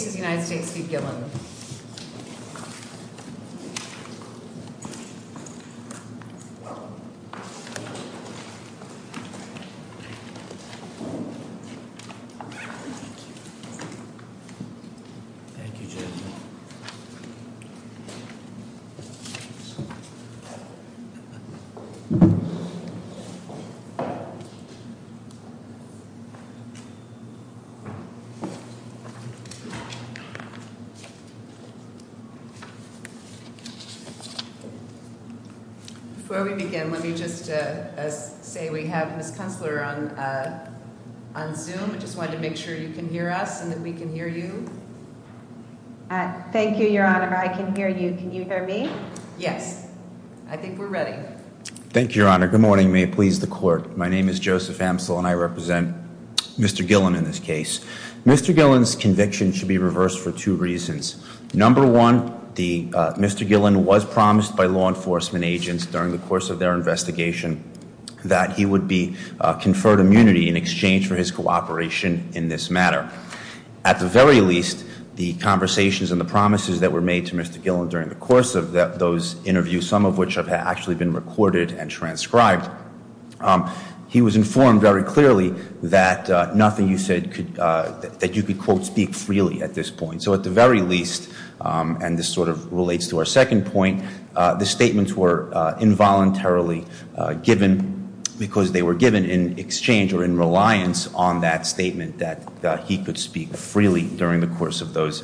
George Members assistant press secretary for traces of the United States V. Gilman. Before we begin, let me just say we have this counselor on on zoom and just wanted to make sure you can hear us and that we can hear you. Thank you, Your Honor. I can hear you. Can you hear me? Yes, I think we're ready. Thank you, Your Honor. Good morning. May it please the court. My name is Joseph Hamsel and I represent Mr. Gillen in this case. Mr. Gillen's conviction should be reversed for two reasons. Number one, the Mr. Gillen was promised by law enforcement agents during the course of their investigation that he would be conferred immunity in exchange for his cooperation in this matter. At the very least, the conversations and the promises that were made to Mr. Gillen during the course of those interviews, some of which have actually been recorded and transcribed. He was informed very clearly that nothing you said could that you could, quote, speak freely at this point. So at the very least, and this sort of relates to our second point, the statements were involuntarily given because they were given in exchange or in reliance on that statement that he could speak freely during the course of those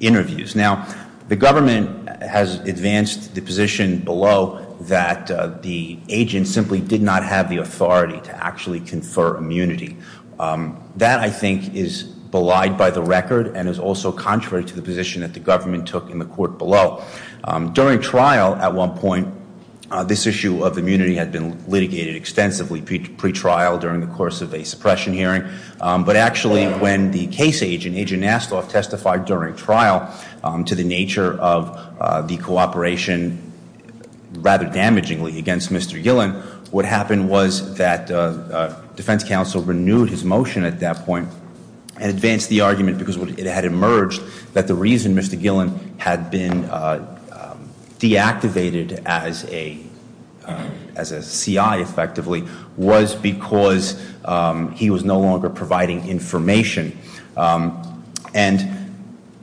interviews. Now, the government has advanced the position below that the agent simply did not have the authority to actually confer immunity. That, I think, is belied by the record and is also contrary to the position that the government took in the court below. During trial at one point, this issue of immunity had been litigated extensively pre-trial during the course of a suppression hearing. But actually, when the case agent, Agent Nassloff, testified during trial to the nature of the cooperation, rather damagingly, against Mr. Gillen, what happened was that defense counsel renewed his motion at that point. And advanced the argument because it had emerged that the reason Mr. Gillen had been deactivated as a CI, effectively, was because he was no longer providing information. And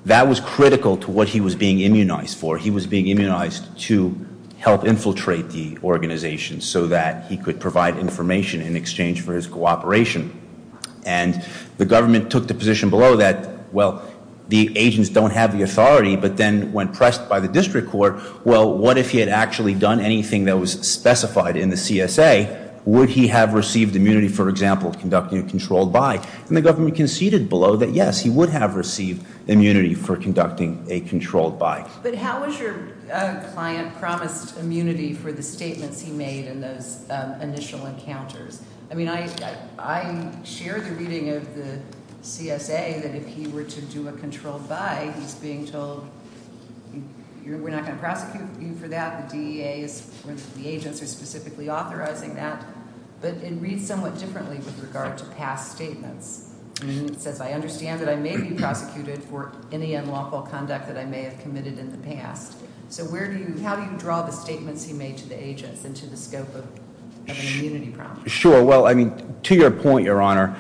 that was critical to what he was being immunized for. He was being immunized to help infiltrate the organization so that he could provide information in exchange for his cooperation. And the government took the position below that, well, the agents don't have the authority. But then, when pressed by the district court, well, what if he had actually done anything that was specified in the CSA? Would he have received immunity, for example, conducting a controlled buy? And the government conceded below that, yes, he would have received immunity for conducting a controlled buy. But how was your client promised immunity for the statements he made in those initial encounters? I mean, I share the reading of the CSA that if he were to do a controlled buy, he's being told, we're not going to prosecute you for that. The DEA is, the agents are specifically authorizing that. But it reads somewhat differently with regard to past statements. And it says, I understand that I may be prosecuted for any unlawful conduct that I may have committed in the past. So how do you draw the statements he made to the agents and to the scope of an immunity prompt? Sure, well, I mean, to your point, your honor,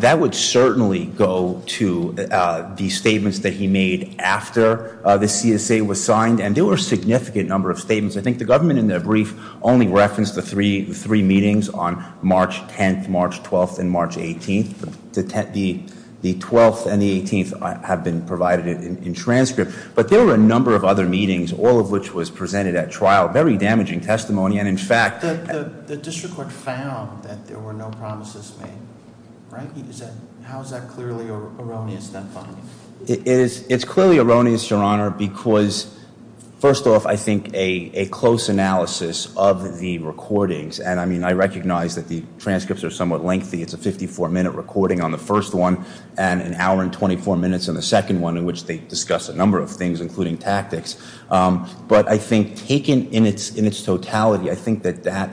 that would certainly go to the statements that he made after the CSA was signed, and there were a significant number of statements. I think the government, in their brief, only referenced the three meetings on March 10th, March 12th, and March 18th. The 12th and the 18th have been provided in transcript. But there were a number of other meetings, all of which was presented at trial, very damaging testimony. And in fact- The district court found that there were no promises made, right? How is that clearly erroneous, that finding? It's clearly erroneous, your honor, because first off, I think a close analysis of the recordings. And I mean, I recognize that the transcripts are somewhat lengthy. It's a 54 minute recording on the first one, and an hour and 24 minutes on the second one, in which they discuss a number of things, including tactics. But I think, taken in its totality, I think that that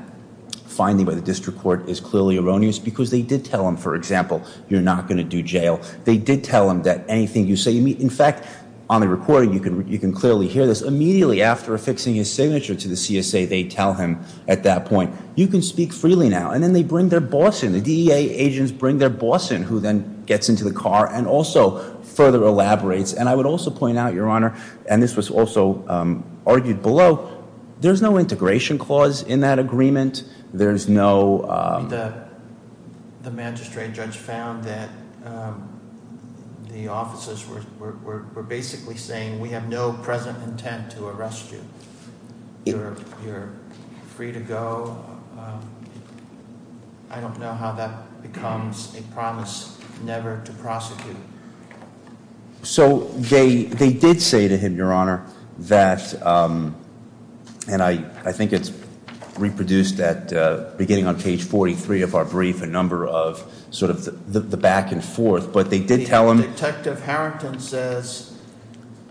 finding by the district court is clearly erroneous. Because they did tell him, for example, you're not going to do jail. They did tell him that anything you say, in fact, on the recording, you can clearly hear this. Immediately after affixing his signature to the CSA, they tell him at that point, you can speak freely now. And then they bring their boss in, the DEA agents bring their boss in, who then gets into the car and also further elaborates. And I would also point out, your honor, and this was also argued below, there's no integration clause in that agreement. There's no- The magistrate judge found that the officers were basically saying we have no present intent to arrest you. You're free to go. I don't know how that becomes a promise never to prosecute. So they did say to him, your honor, that, and I think it's reproduced at beginning on page 43 of our brief, a number of sort of the back and forth, but they did tell him- Detective Harrington says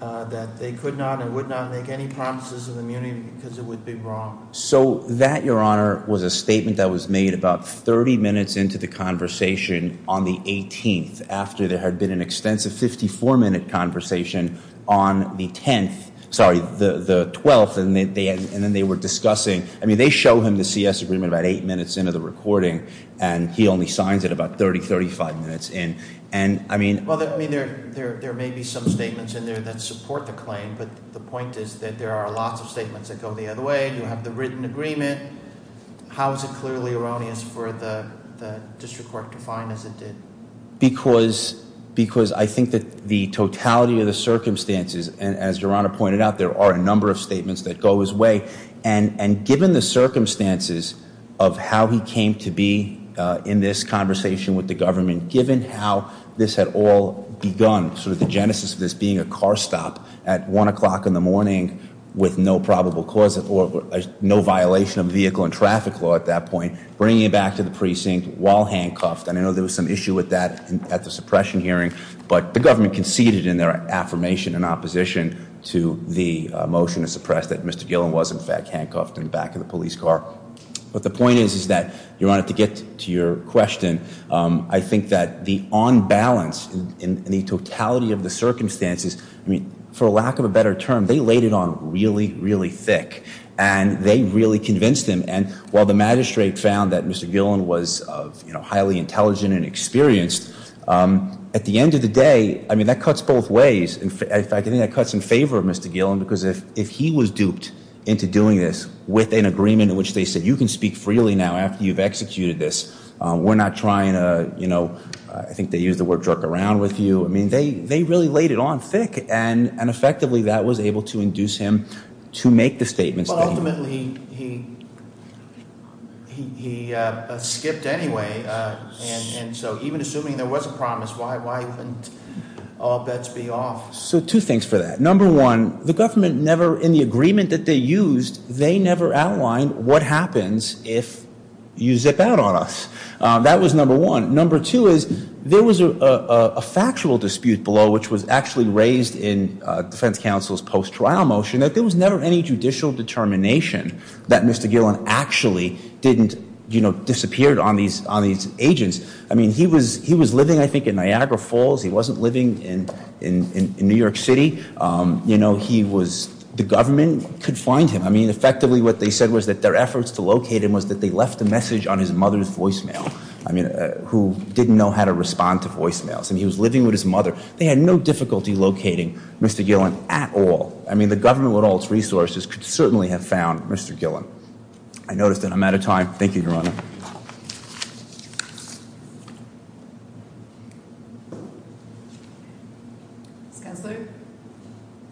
that they could not and would not make any promises of immunity because it would be wrong. So that, your honor, was a statement that was made about 30 minutes into the conversation on the 18th, after there had been an extensive 54 minute conversation on the 10th. Sorry, the 12th, and then they were discussing. I mean, they show him the CS agreement about eight minutes into the recording, and he only signs it about 30, 35 minutes in. And I mean- Well, I mean, there may be some statements in there that support the claim, but the point is that there are lots of statements that go the other way, you have the written agreement. How is it clearly erroneous for the district court to find as it did? Because I think that the totality of the circumstances, and as your honor pointed out, there are a number of statements that go his way. And given the circumstances of how he came to be in this conversation with the government, given how this had all begun, sort of the genesis of this being a car stop at 1 o'clock in the morning with no probable cause of, or no violation of vehicle and traffic law at that point, bringing it back to the precinct while handcuffed. And I know there was some issue with that at the suppression hearing, but the government conceded in their affirmation in opposition to the motion to suppress that Mr. Gillen was, in fact, handcuffed in the back of the police car. But the point is that, your honor, to get to your question, I think that the on balance in the totality of the circumstances, for lack of a better term, they laid it on really, really thick. And they really convinced him. And while the magistrate found that Mr. Gillen was highly intelligent and experienced, at the end of the day, I mean, that cuts both ways. In fact, I think that cuts in favor of Mr. Gillen, because if he was duped into doing this with an agreement in which they said you can speak freely now after you've executed this, we're not trying to, I think they used the word jerk around with you, I mean, they really laid it on thick. And effectively, that was able to induce him to make the statements that he made. Well, ultimately, he skipped anyway, and so even assuming there was a promise, why wouldn't all bets be off? So two things for that. Number one, the government never, in the agreement that they used, they never outlined what happens if you zip out on us. That was number one. Number two is, there was a factual dispute below, which was actually raised in defense counsel's post-trial motion, that there was never any judicial determination that Mr. Gillen actually didn't disappear on these agents. I mean, he was living, I think, in Niagara Falls. He wasn't living in New York City. He was, the government could find him. I mean, effectively, what they said was that their efforts to locate him was that they left a message on his mother's voicemail. I mean, who didn't know how to respond to voicemails. And he was living with his mother. They had no difficulty locating Mr. Gillen at all. I mean, the government with all its resources could certainly have found Mr. Gillen. I noticed that I'm out of time. Thank you, Your Honor. Ms. Kessler?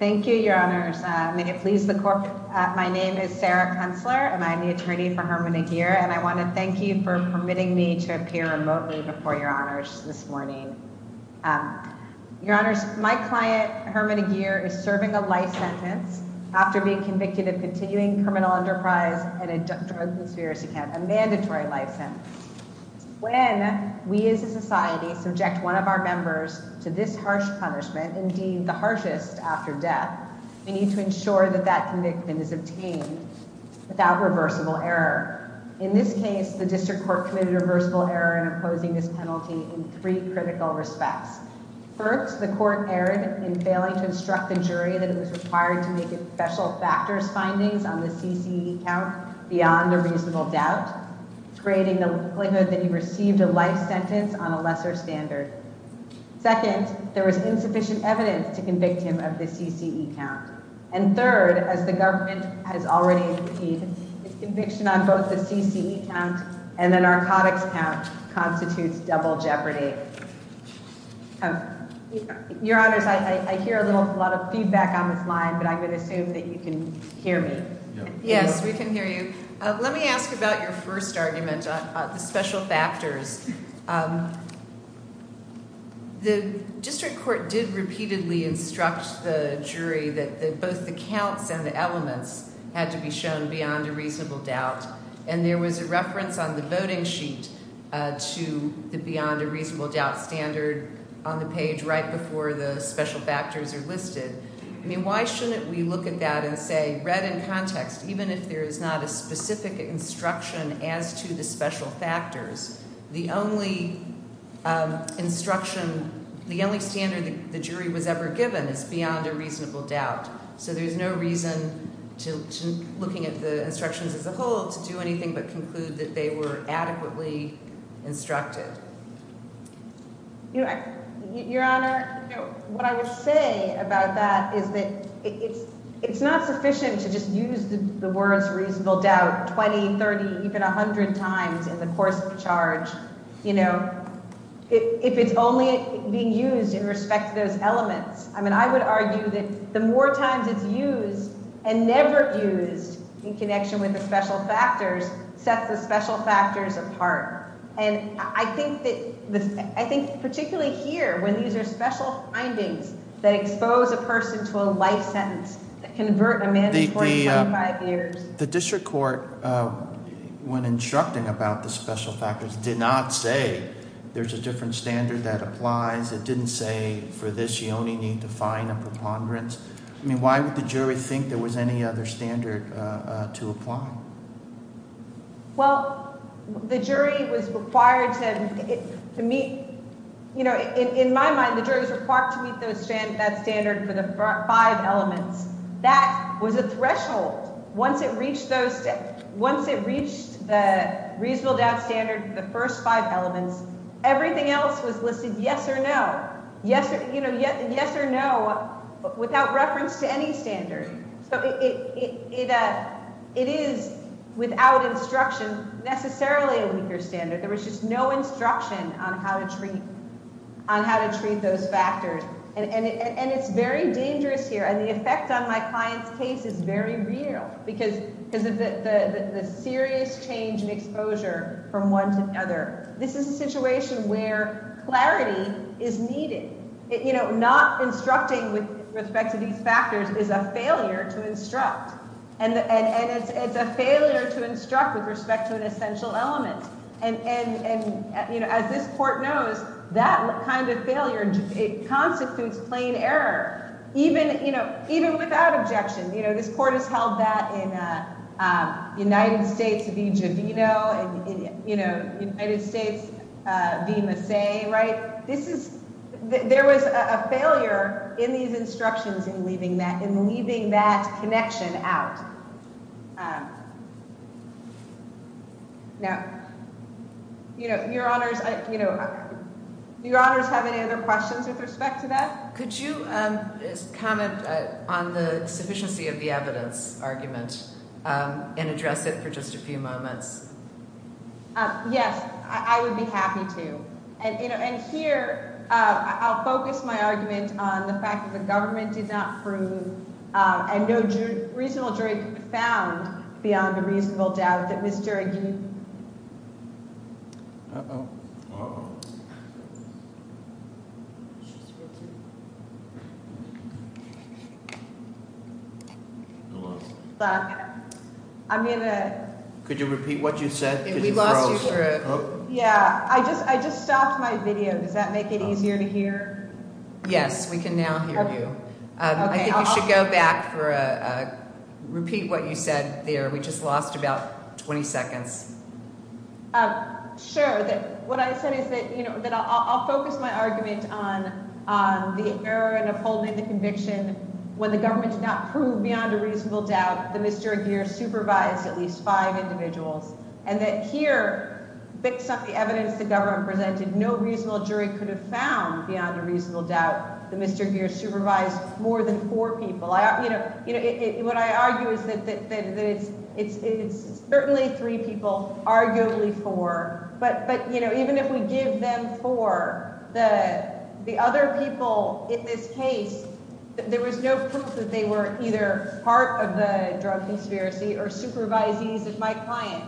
Thank you, Your Honors. May it please the court, my name is Sarah Kessler, and I'm the attorney for Herman and Geer. And I want to thank you for permitting me to appear remotely before Your Honors this morning. Your Honors, my client, Herman and Geer, is serving a life sentence after being convicted of continuing criminal enterprise and drug conspiracy count, a mandatory life sentence. When we as a society subject one of our members to this harsh punishment, indeed the harshest after death, we need to ensure that that convictment is obtained without reversible error. In this case, the district court committed reversible error in opposing this penalty in three critical respects. First, the court erred in failing to instruct the jury that it was required to make it special factors findings on the CCE count beyond a reasonable doubt, creating the likelihood that he received a life sentence on a lesser standard. Second, there was insufficient evidence to convict him of the CCE count. And third, as the government has already impeded, the conviction on both the CCE count and the narcotics count constitutes double jeopardy. Your Honors, I hear a lot of feedback on this line, but I'm going to assume that you can hear me. Yes, we can hear you. Let me ask about your first argument, the special factors. The district court did repeatedly instruct the jury that both the counts and the elements had to be shown beyond a reasonable doubt. And there was a reference on the voting sheet to the beyond a reasonable doubt standard on the page right before the special factors are listed. I mean, why shouldn't we look at that and say, read in context, even if there is not a specific instruction as to the special factors, the only instruction, the only standard the jury was ever given is beyond a reasonable doubt. So there's no reason to, looking at the instructions as a whole, to do anything but conclude that they were adequately instructed. Your Honor, what I would say about that is that it's not sufficient to just use the words reasonable doubt 20, 30, even 100 times in the course of the charge. If it's only being used in respect to those elements, I mean, I would argue that the more times it's used and never used in connection with the special factors sets the special factors apart. And I think particularly here, when these are special findings that expose a person to a life sentence, that convert a mandatory 25 years. The district court, when instructing about the special factors, did not say there's a different standard that applies. It didn't say for this you only need to find a preponderance. I mean, why would the jury think there was any other standard to apply? Well, the jury was required to meet, in my mind, the jury was required to meet that standard for the five elements. That was a threshold. Once it reached the reasonable doubt standard, the first five elements, everything else was listed yes or no. Yes or no without reference to any standard. So it is, without instruction, necessarily a weaker standard. There was just no instruction on how to treat those factors. And it's very dangerous here, and the effect on my client's case is very real. Because of the serious change in exposure from one to the other. This is a situation where clarity is needed. Not instructing with respect to these factors is a failure to instruct. And it's a failure to instruct with respect to an essential element. And as this court knows, that kind of failure, it constitutes plain error, even without objection. This court has held that in United States v Giovino, and United States v Masse, right? There was a failure in these instructions in leaving that connection out. Now, your honors, do your honors have any other questions with respect to that? Could you comment on the sufficiency of the evidence argument and address it for just a few moments? Yes, I would be happy to. And here, I'll focus my argument on the fact that the government did not prove, and no reasonable jury could be found beyond a reasonable doubt that Ms. During- Uh-oh. Uh-oh. She's here too. I'm in a- Could you repeat what you said? We lost you for a- Yeah, I just stopped my video. Does that make it easier to hear? Yes, we can now hear you. I think you should go back for a, repeat what you said there. We just lost about 20 seconds. Sure. What I said is that I'll focus my argument on the error in upholding the conviction when the government did not prove beyond a reasonable doubt that Mr. Aguirre supervised at least five individuals, and that here, based on the evidence the government presented, no reasonable jury could have found beyond a reasonable doubt that Mr. Aguirre supervised more than four people. What I argue is that it's certainly three people, arguably four, but even if we give them four, the other people in this case, there was no proof that they were either part of the drug conspiracy or supervisees of my client.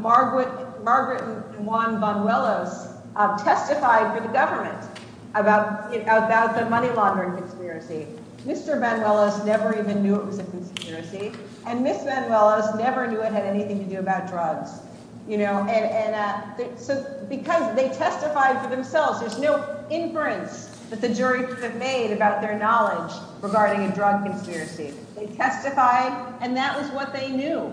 Margaret and Juan Bonuelos testified for the government about the money laundering conspiracy. Mr. Bonuelos never even knew it was a conspiracy, and Ms. Bonuelos never knew it had anything to do about drugs. So because they testified for themselves, there's no inference that the jury could have made about their knowledge regarding a drug conspiracy. They testified, and that was what they knew.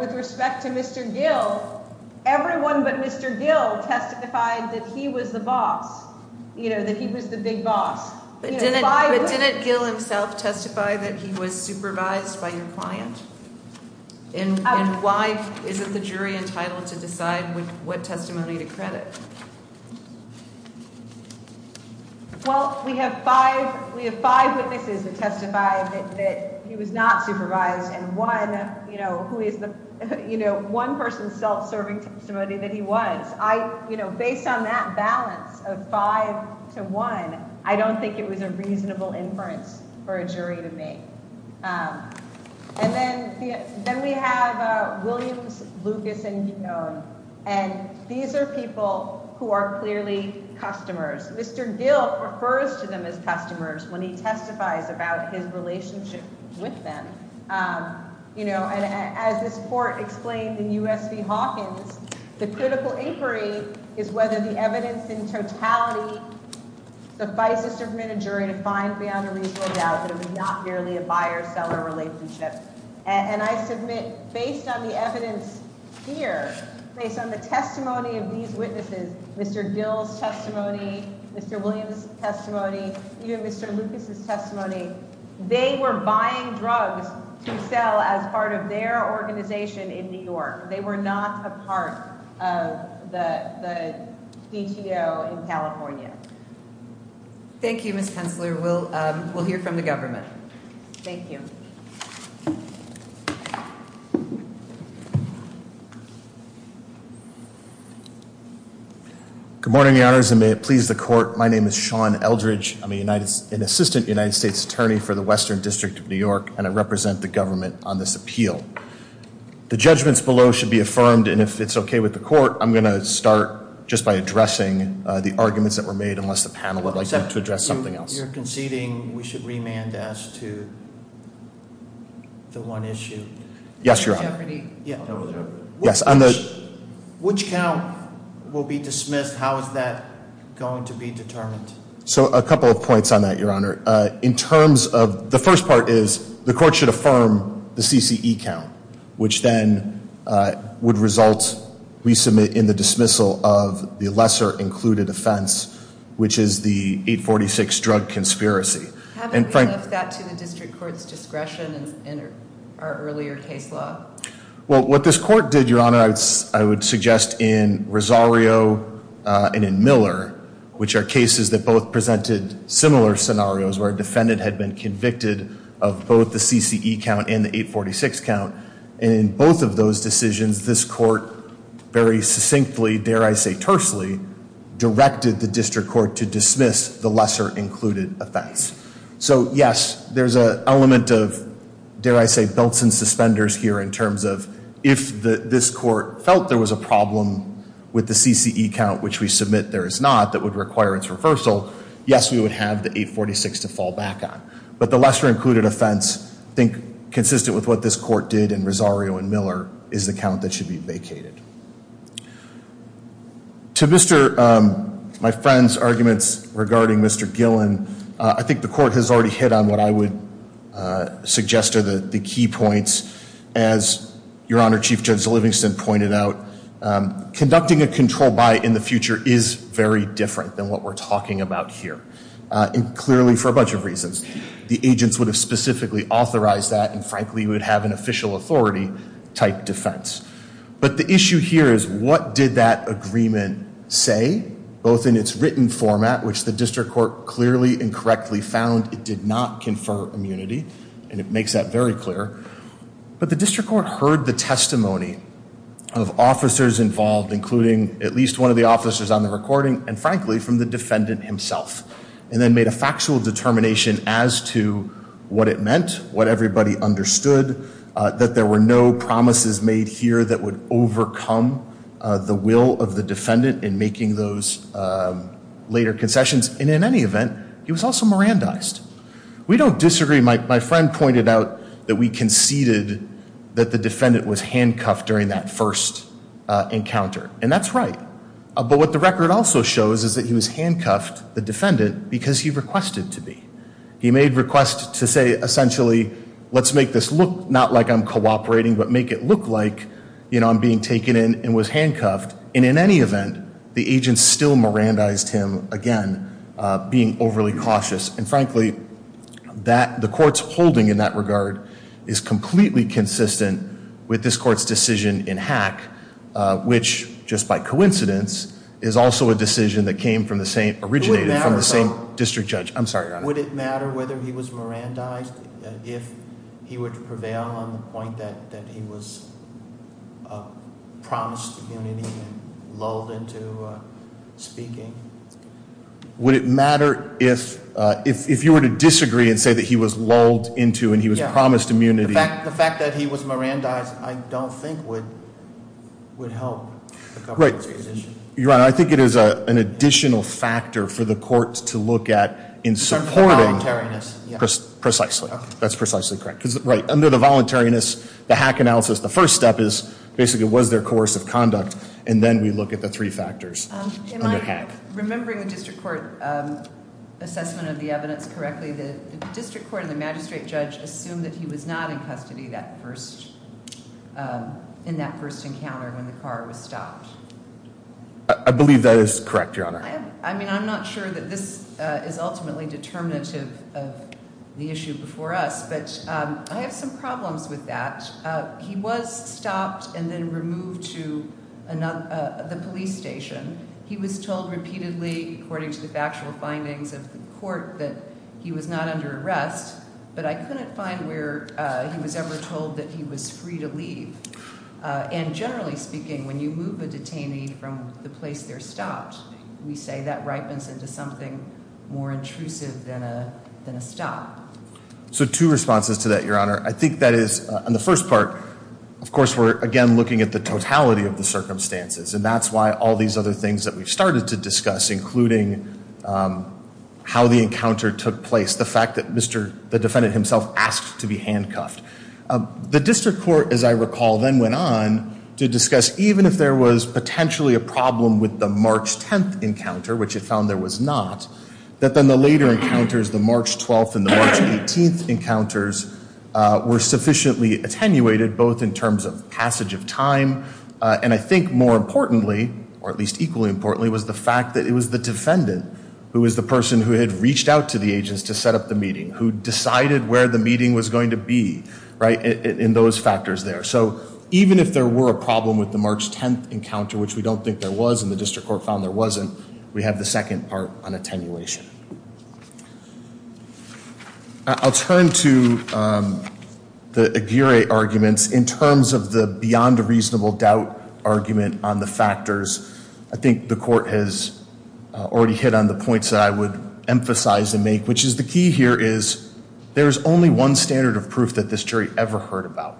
With respect to Mr. Gill, everyone but Mr. Gill testified that he was the boss, that he was the big boss. But didn't Gill himself testify that he was supervised by your client? And why isn't the jury entitled to decide what testimony to credit? Well, we have five witnesses that testify that he was not supervised, and one who is the one-person self-serving testimony that he was. Based on that balance of five to one, I don't think it was a reasonable inference for a jury to make. And then we have Williams, Lucas, and Guillaume, and these are people who are clearly customers. Mr. Gill refers to them as customers when he testifies about his relationship with them. As this court explained in U.S. v. Hawkins, the critical inquiry is whether the evidence in totality suffices to permit a jury to find beyond a reasonable doubt that it was not merely a buyer-seller relationship. And I submit, based on the evidence here, based on the testimony of these witnesses, Mr. Gill's testimony, Mr. Williams' testimony, even Mr. Lucas' testimony, they were buying drugs to sell as part of their organization in New York. They were not a part of the DTO in California. Thank you, Ms. Pensler. We'll hear from the government. Thank you. Good morning, Your Honors, and may it please the Court. My name is Sean Eldridge. I'm an Assistant United States Attorney for the Western District of New York, and I represent the government on this appeal. The judgments below should be affirmed, and if it's okay with the Court, I'm going to start just by addressing the arguments that were made unless the panel would like to address something else. You're conceding we should remand as to the one issue? Yes, Your Honor. Jeopardy. Yes. Which count will be dismissed? How is that going to be determined? So a couple of points on that, Your Honor. In terms of the first part is the Court should affirm the CCE count, which then would result, we submit, in the dismissal of the lesser included offense, which is the 846 drug conspiracy. Haven't we left that to the District Court's discretion in our earlier case law? Well, what this Court did, Your Honor, I would suggest in Rosario and in Miller, which are cases that both presented similar scenarios where a defendant had been convicted of both the CCE count and the 846 count, and in both of those decisions, this Court very succinctly, dare I say tersely, directed the District Court to dismiss the lesser included offense. So, yes, there's an element of, dare I say, belts and suspenders here in terms of if this Court felt there was a problem with the CCE count, which we submit there is not, that would require its reversal, yes, we would have the 846 to fall back on. But the lesser included offense, I think, consistent with what this Court did in Rosario and Miller, is the count that should be vacated. To my friend's arguments regarding Mr. Gillen, I think the Court has already hit on what I would suggest are the key points. As Your Honor, Chief Judge Livingston pointed out, conducting a control buy in the future is very different than what we're talking about here, and clearly for a bunch of reasons. The agents would have specifically authorized that, and frankly, you would have an official authority type defense. But the issue here is what did that agreement say, both in its written format, which the District Court clearly and correctly found it did not confer immunity, and it makes that very clear, but the District Court heard the testimony of officers involved, including at least one of the officers on the recording, and frankly, from the defendant himself, and then made a factual determination as to what it meant, what everybody understood, that there were no promises made here that would overcome the will of the defendant in making those later concessions, and in any event, he was also Mirandized. We don't disagree. My friend pointed out that we conceded that the defendant was handcuffed during that first encounter, and that's right, but what the record also shows is that he was handcuffed, the defendant, because he requested to be. He made requests to say, essentially, let's make this look not like I'm cooperating, but make it look like I'm being taken in and was handcuffed, and in any event, the agent still Mirandized him, again, being overly cautious, and frankly, the court's holding in that regard is completely consistent with this court's decision in Hack, which, just by coincidence, is also a decision that came from the same, originated from the same district judge. I'm sorry, Your Honor. Would it matter whether he was Mirandized if he were to prevail on the point that he was promised immunity and lulled into speaking? Would it matter if you were to disagree and say that he was lulled into and he was promised immunity? The fact that he was Mirandized, I don't think, would help the government's position. Your Honor, I think it is an additional factor for the court to look at in supporting. The voluntariness. Precisely. That's precisely correct. Right. Under the voluntariness, the Hack analysis, the first step is, basically, was there coercive conduct, and then we look at the three factors under Hack. Remembering the district court assessment of the evidence correctly, the district court and the magistrate judge assumed that he was not in custody in that first encounter when the car was stopped. I believe that is correct, Your Honor. I mean, I'm not sure that this is ultimately determinative of the issue before us, but I have some problems with that. He was stopped and then removed to the police station. He was told repeatedly, according to the factual findings of the court, that he was not under arrest, but I couldn't find where he was ever told that he was free to leave. And generally speaking, when you move a detainee from the place they're stopped, we say that ripens into something more intrusive than a stop. So two responses to that, Your Honor. I think that is, on the first part, of course, we're, again, looking at the totality of the circumstances, and that's why all these other things that we've started to discuss, including how the encounter took place, the fact that the defendant himself asked to be handcuffed. The district court, as I recall, then went on to discuss, even if there was potentially a problem with the March 10th encounter, which it found there was not, that then the later encounters, the March 12th and the March 18th encounters, were sufficiently attenuated, both in terms of passage of time, and I think more importantly, or at least equally importantly, was the fact that it was the defendant who was the person who had reached out to the agents to set up the meeting, who decided where the meeting was going to be, right, in those factors there. So even if there were a problem with the March 10th encounter, which we don't think there was, and the district court found there wasn't, we have the second part on attenuation. I'll turn to the Aguirre arguments in terms of the beyond a reasonable doubt argument on the factors. I think the court has already hit on the points that I would emphasize and make, which is the key here is there is only one standard of proof that this jury ever heard about,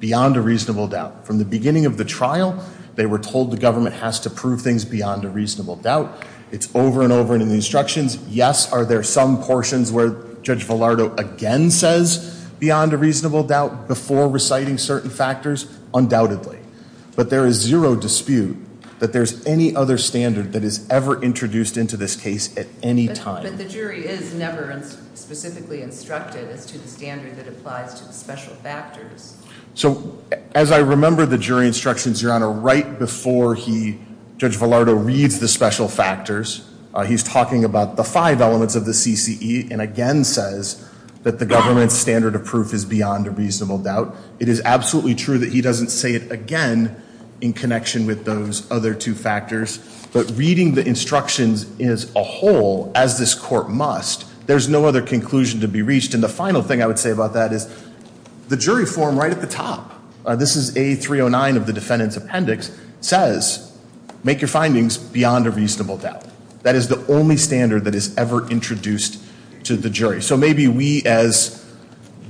beyond a reasonable doubt. From the beginning of the trial, they were told the government has to prove things beyond a reasonable doubt. It's over and over in the instructions. Yes, are there some portions where Judge Villardo again says beyond a reasonable doubt before reciting certain factors? Undoubtedly. But there is zero dispute that there's any other standard that is ever introduced into this case at any time. But the jury is never specifically instructed as to the standard that applies to the special factors. So as I remember the jury instructions, Your Honor, right before Judge Villardo reads the special factors, he's talking about the five elements of the CCE and again says that the government's standard of proof is beyond a reasonable doubt. It is absolutely true that he doesn't say it again in connection with those other two factors. But reading the instructions as a whole, as this court must, there's no other conclusion to be reached. And the final thing I would say about that is the jury form right at the top, this is A309 of the defendant's appendix, says make your findings beyond a reasonable doubt. That is the only standard that is ever introduced to the jury. So maybe we as,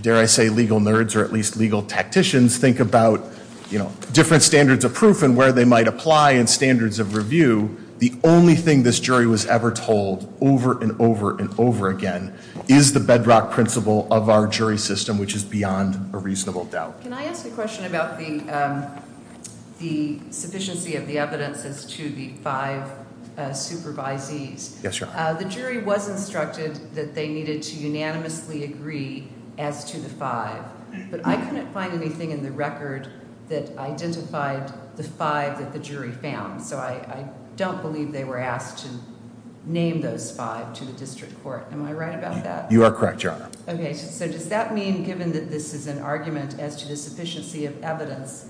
dare I say, legal nerds or at least legal tacticians think about, you know, different standards of proof and where they might apply and standards of review. The only thing this jury was ever told over and over and over again is the bedrock principle of our jury system, which is beyond a reasonable doubt. Can I ask a question about the sufficiency of the evidence as to the five supervisees? Yes, Your Honor. The jury was instructed that they needed to unanimously agree as to the five, but I couldn't find anything in the record that identified the five that the jury found. So I don't believe they were asked to name those five to the district court. Am I right about that? You are correct, Your Honor. Okay, so does that mean given that this is an argument as to the sufficiency of evidence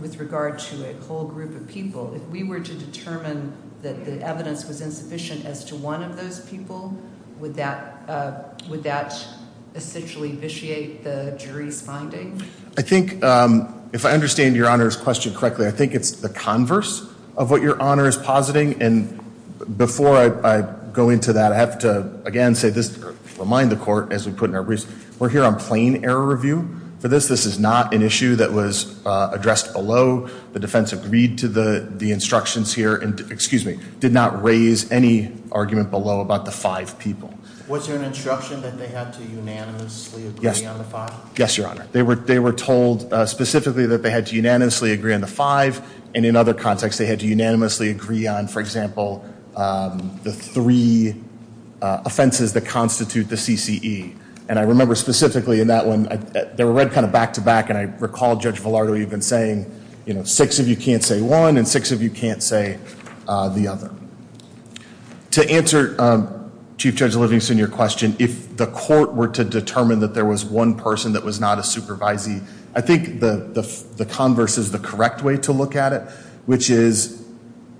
with regard to a whole group of people, if we were to determine that the evidence was insufficient as to one of those people, would that essentially vitiate the jury's finding? I think if I understand Your Honor's question correctly, I think it's the converse of what Your Honor is positing. And before I go into that, I have to, again, say this to remind the court, as we put in our briefs, we're here on plain error review for this. This is not an issue that was addressed below. The defense agreed to the instructions here and, excuse me, did not raise any argument below about the five people. Was there an instruction that they had to unanimously agree on the five? Yes, Your Honor. They were told specifically that they had to unanimously agree on the five, and in other contexts they had to unanimously agree on, for example, the three offenses that constitute the CCE. And I remember specifically in that one, they were read kind of back to back, and I recall Judge Villardo even saying, you know, six of you can't say one and six of you can't say the other. To answer Chief Judge Livingston, your question, if the court were to determine that there was one person that was not a supervisee, I think the converse is the correct way to look at it, which is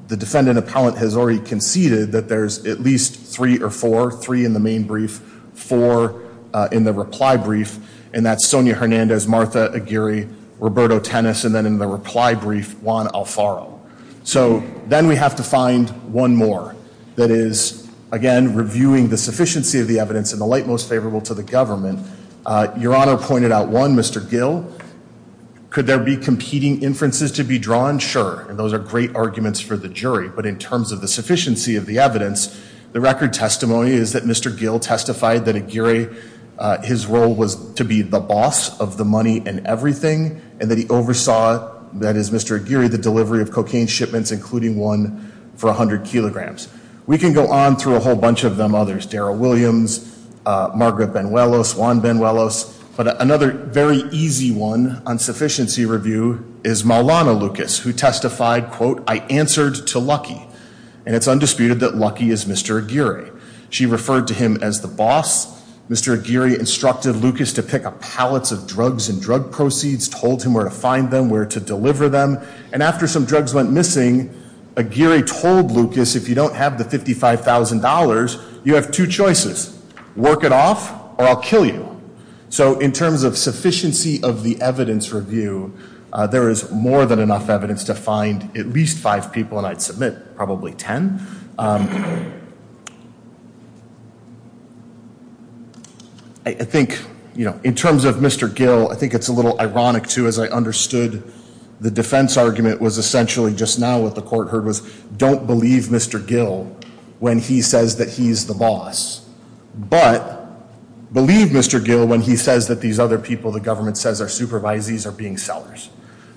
the defendant appellant has already conceded that there's at least three or four, three in the main brief, four in the reply brief, and that's Sonia Hernandez, Martha Aguirre, Roberto Tennis, and then in the reply brief, Juan Alfaro. So then we have to find one more that is, again, reviewing the sufficiency of the evidence and the light most favorable to the government. Your Honor pointed out one, Mr. Gill. Could there be competing inferences to be drawn? Sure, and those are great arguments for the jury, but in terms of the sufficiency of the evidence, the record testimony is that Mr. Gill testified that Aguirre, his role was to be the boss of the money and everything, and that he oversaw, that is, Mr. Aguirre, the delivery of cocaine shipments, including one for 100 kilograms. We can go on through a whole bunch of them, others, Daryl Williams, Margaret Benuelos, Juan Benuelos, but another very easy one on sufficiency review is Maulana Lucas, who testified, quote, I answered to Lucky, and it's undisputed that Lucky is Mr. Aguirre. She referred to him as the boss. Mr. Aguirre instructed Lucas to pick up pallets of drugs and drug proceeds, told him where to find them, where to deliver them, and after some drugs went missing, Aguirre told Lucas, if you don't have the $55,000, you have two choices, work it off or I'll kill you. So in terms of sufficiency of the evidence review, there is more than enough evidence to find at least five people, and I'd submit probably ten. I think, you know, in terms of Mr. Gill, I think it's a little ironic, too, as I understood the defense argument was essentially just now what the court heard was don't believe Mr. Gill when he says that he's the boss, but believe Mr. Gill when he says that these other people the government says are supervisees are being sellers.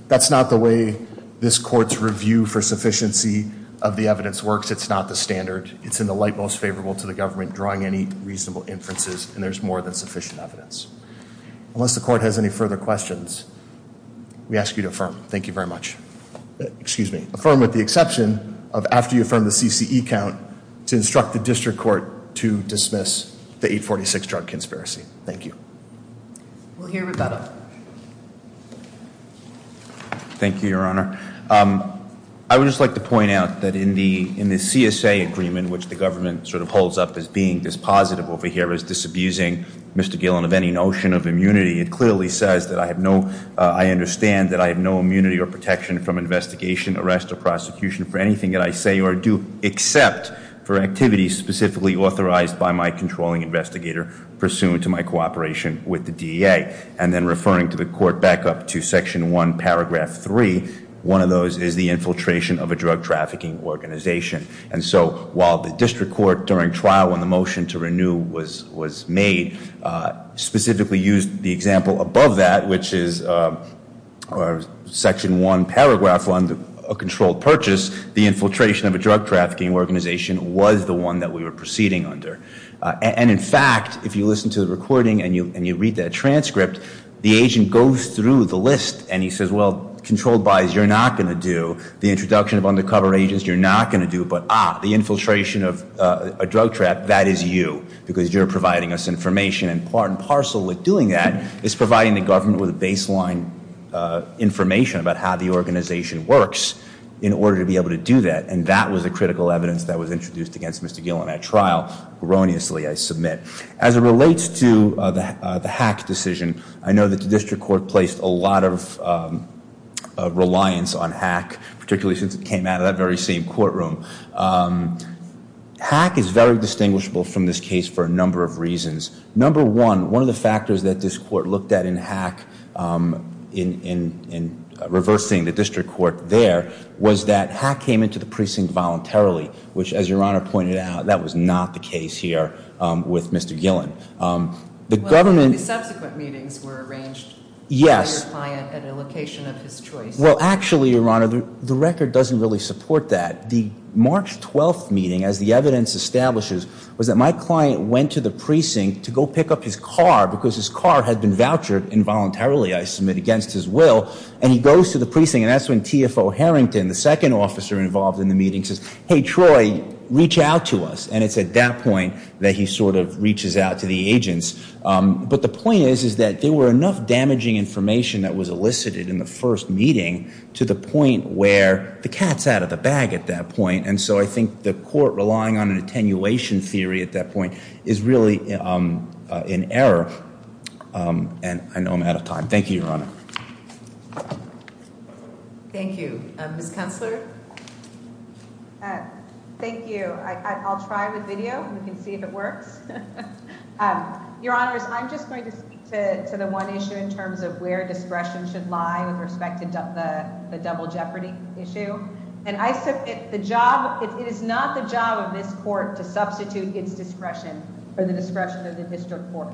That's not the way this court's review for sufficiency of the evidence works. It's not the standard. It's in the light most favorable to the government drawing any reasonable inferences, and there's more than sufficient evidence. Unless the court has any further questions, we ask you to affirm. Thank you very much. Excuse me. Affirm with the exception of after you affirm the CCE count to instruct the district court to dismiss the 846 drug conspiracy. Thank you. We'll hear Rebecca. Thank you, Your Honor. I would just like to point out that in the CSA agreement, which the government sort of holds up as being dispositive over here, as disabusing Mr. Gill of any notion of immunity, it clearly says that I have no, I understand that I have no immunity or protection from investigation, arrest, or prosecution for anything that I say or do except for activities specifically authorized by my controlling investigator pursuant to my cooperation with the DEA. And then referring to the court back up to section one, paragraph three, one of those is the infiltration of a drug trafficking organization. And so while the district court during trial when the motion to renew was made specifically used the example above that, which is section one, paragraph one, a controlled purchase, the infiltration of a drug trafficking organization was the one that we were proceeding under. And, in fact, if you listen to the recording and you read that transcript, the agent goes through the list, and he says, well, controlled buys, you're not going to do. The introduction of undercover agents, you're not going to do. But, ah, the infiltration of a drug trap, that is you because you're providing us information. And part and parcel with doing that is providing the government with baseline information about how the organization works in order to be able to do that. And that was the critical evidence that was introduced against Mr. Gill in that trial erroneously I submit. As it relates to the hack decision, I know that the district court placed a lot of reliance on hack, particularly since it came out of that very same courtroom. Hack is very distinguishable from this case for a number of reasons. Number one, one of the factors that this court looked at in hack, in reversing the district court there, was that hack came into the precinct voluntarily, which, as Your Honor pointed out, that was not the case here with Mr. Gillen. The government- Well, the subsequent meetings were arranged- Yes. By your client at a location of his choice. Well, actually, Your Honor, the record doesn't really support that. The March 12th meeting, as the evidence establishes, was that my client went to the precinct to go pick up his car because his car had been vouchered involuntarily, I submit, against his will. And he goes to the precinct, and that's when TFO Harrington, the second officer involved in the meeting, says, Hey, Troy, reach out to us. And it's at that point that he sort of reaches out to the agents. But the point is, is that there were enough damaging information that was elicited in the first meeting to the point where the cat's out of the bag at that point. And so I think the court relying on an attenuation theory at that point is really in error. And I know I'm out of time. Thank you, Your Honor. Thank you. Ms. Kunstler? Thank you. I'll try with video. We can see if it works. Your Honors, I'm just going to speak to the one issue in terms of where discretion should lie with respect to the double jeopardy issue. And I submit, the job, it is not the job of this court to substitute its discretion for the discretion of the district court.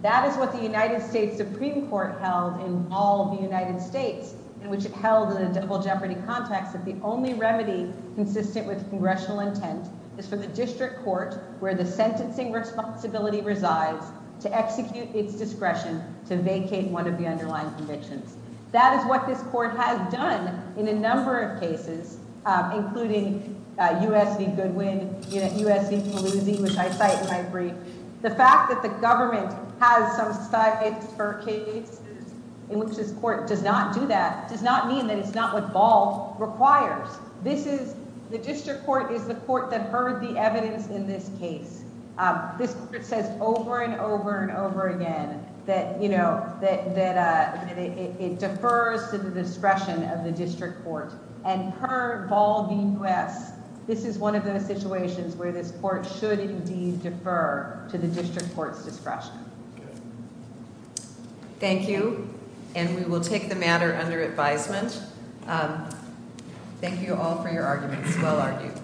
That is what the United States Supreme Court held in all of the United States, in which it held in a double jeopardy context that the only remedy consistent with congressional intent is for the district court, where the sentencing responsibility resides, to execute its discretion to vacate one of the underlying convictions. That is what this court has done in a number of cases, including U.S. v. Goodwin, U.S. v. Palooza, which I cite in my brief. The fact that the government has some stipends for cases in which this court does not do that does not mean that it's not what Bald requires. This is, the district court is the court that heard the evidence in this case. This court says over and over and over again that, you know, that it defers to the discretion of the district court. And per Bald v. U.S., this is one of those situations where this court should indeed defer to the district court's discretion. Thank you, and we will take the matter under advisement. Thank you all for your arguments. Well argued.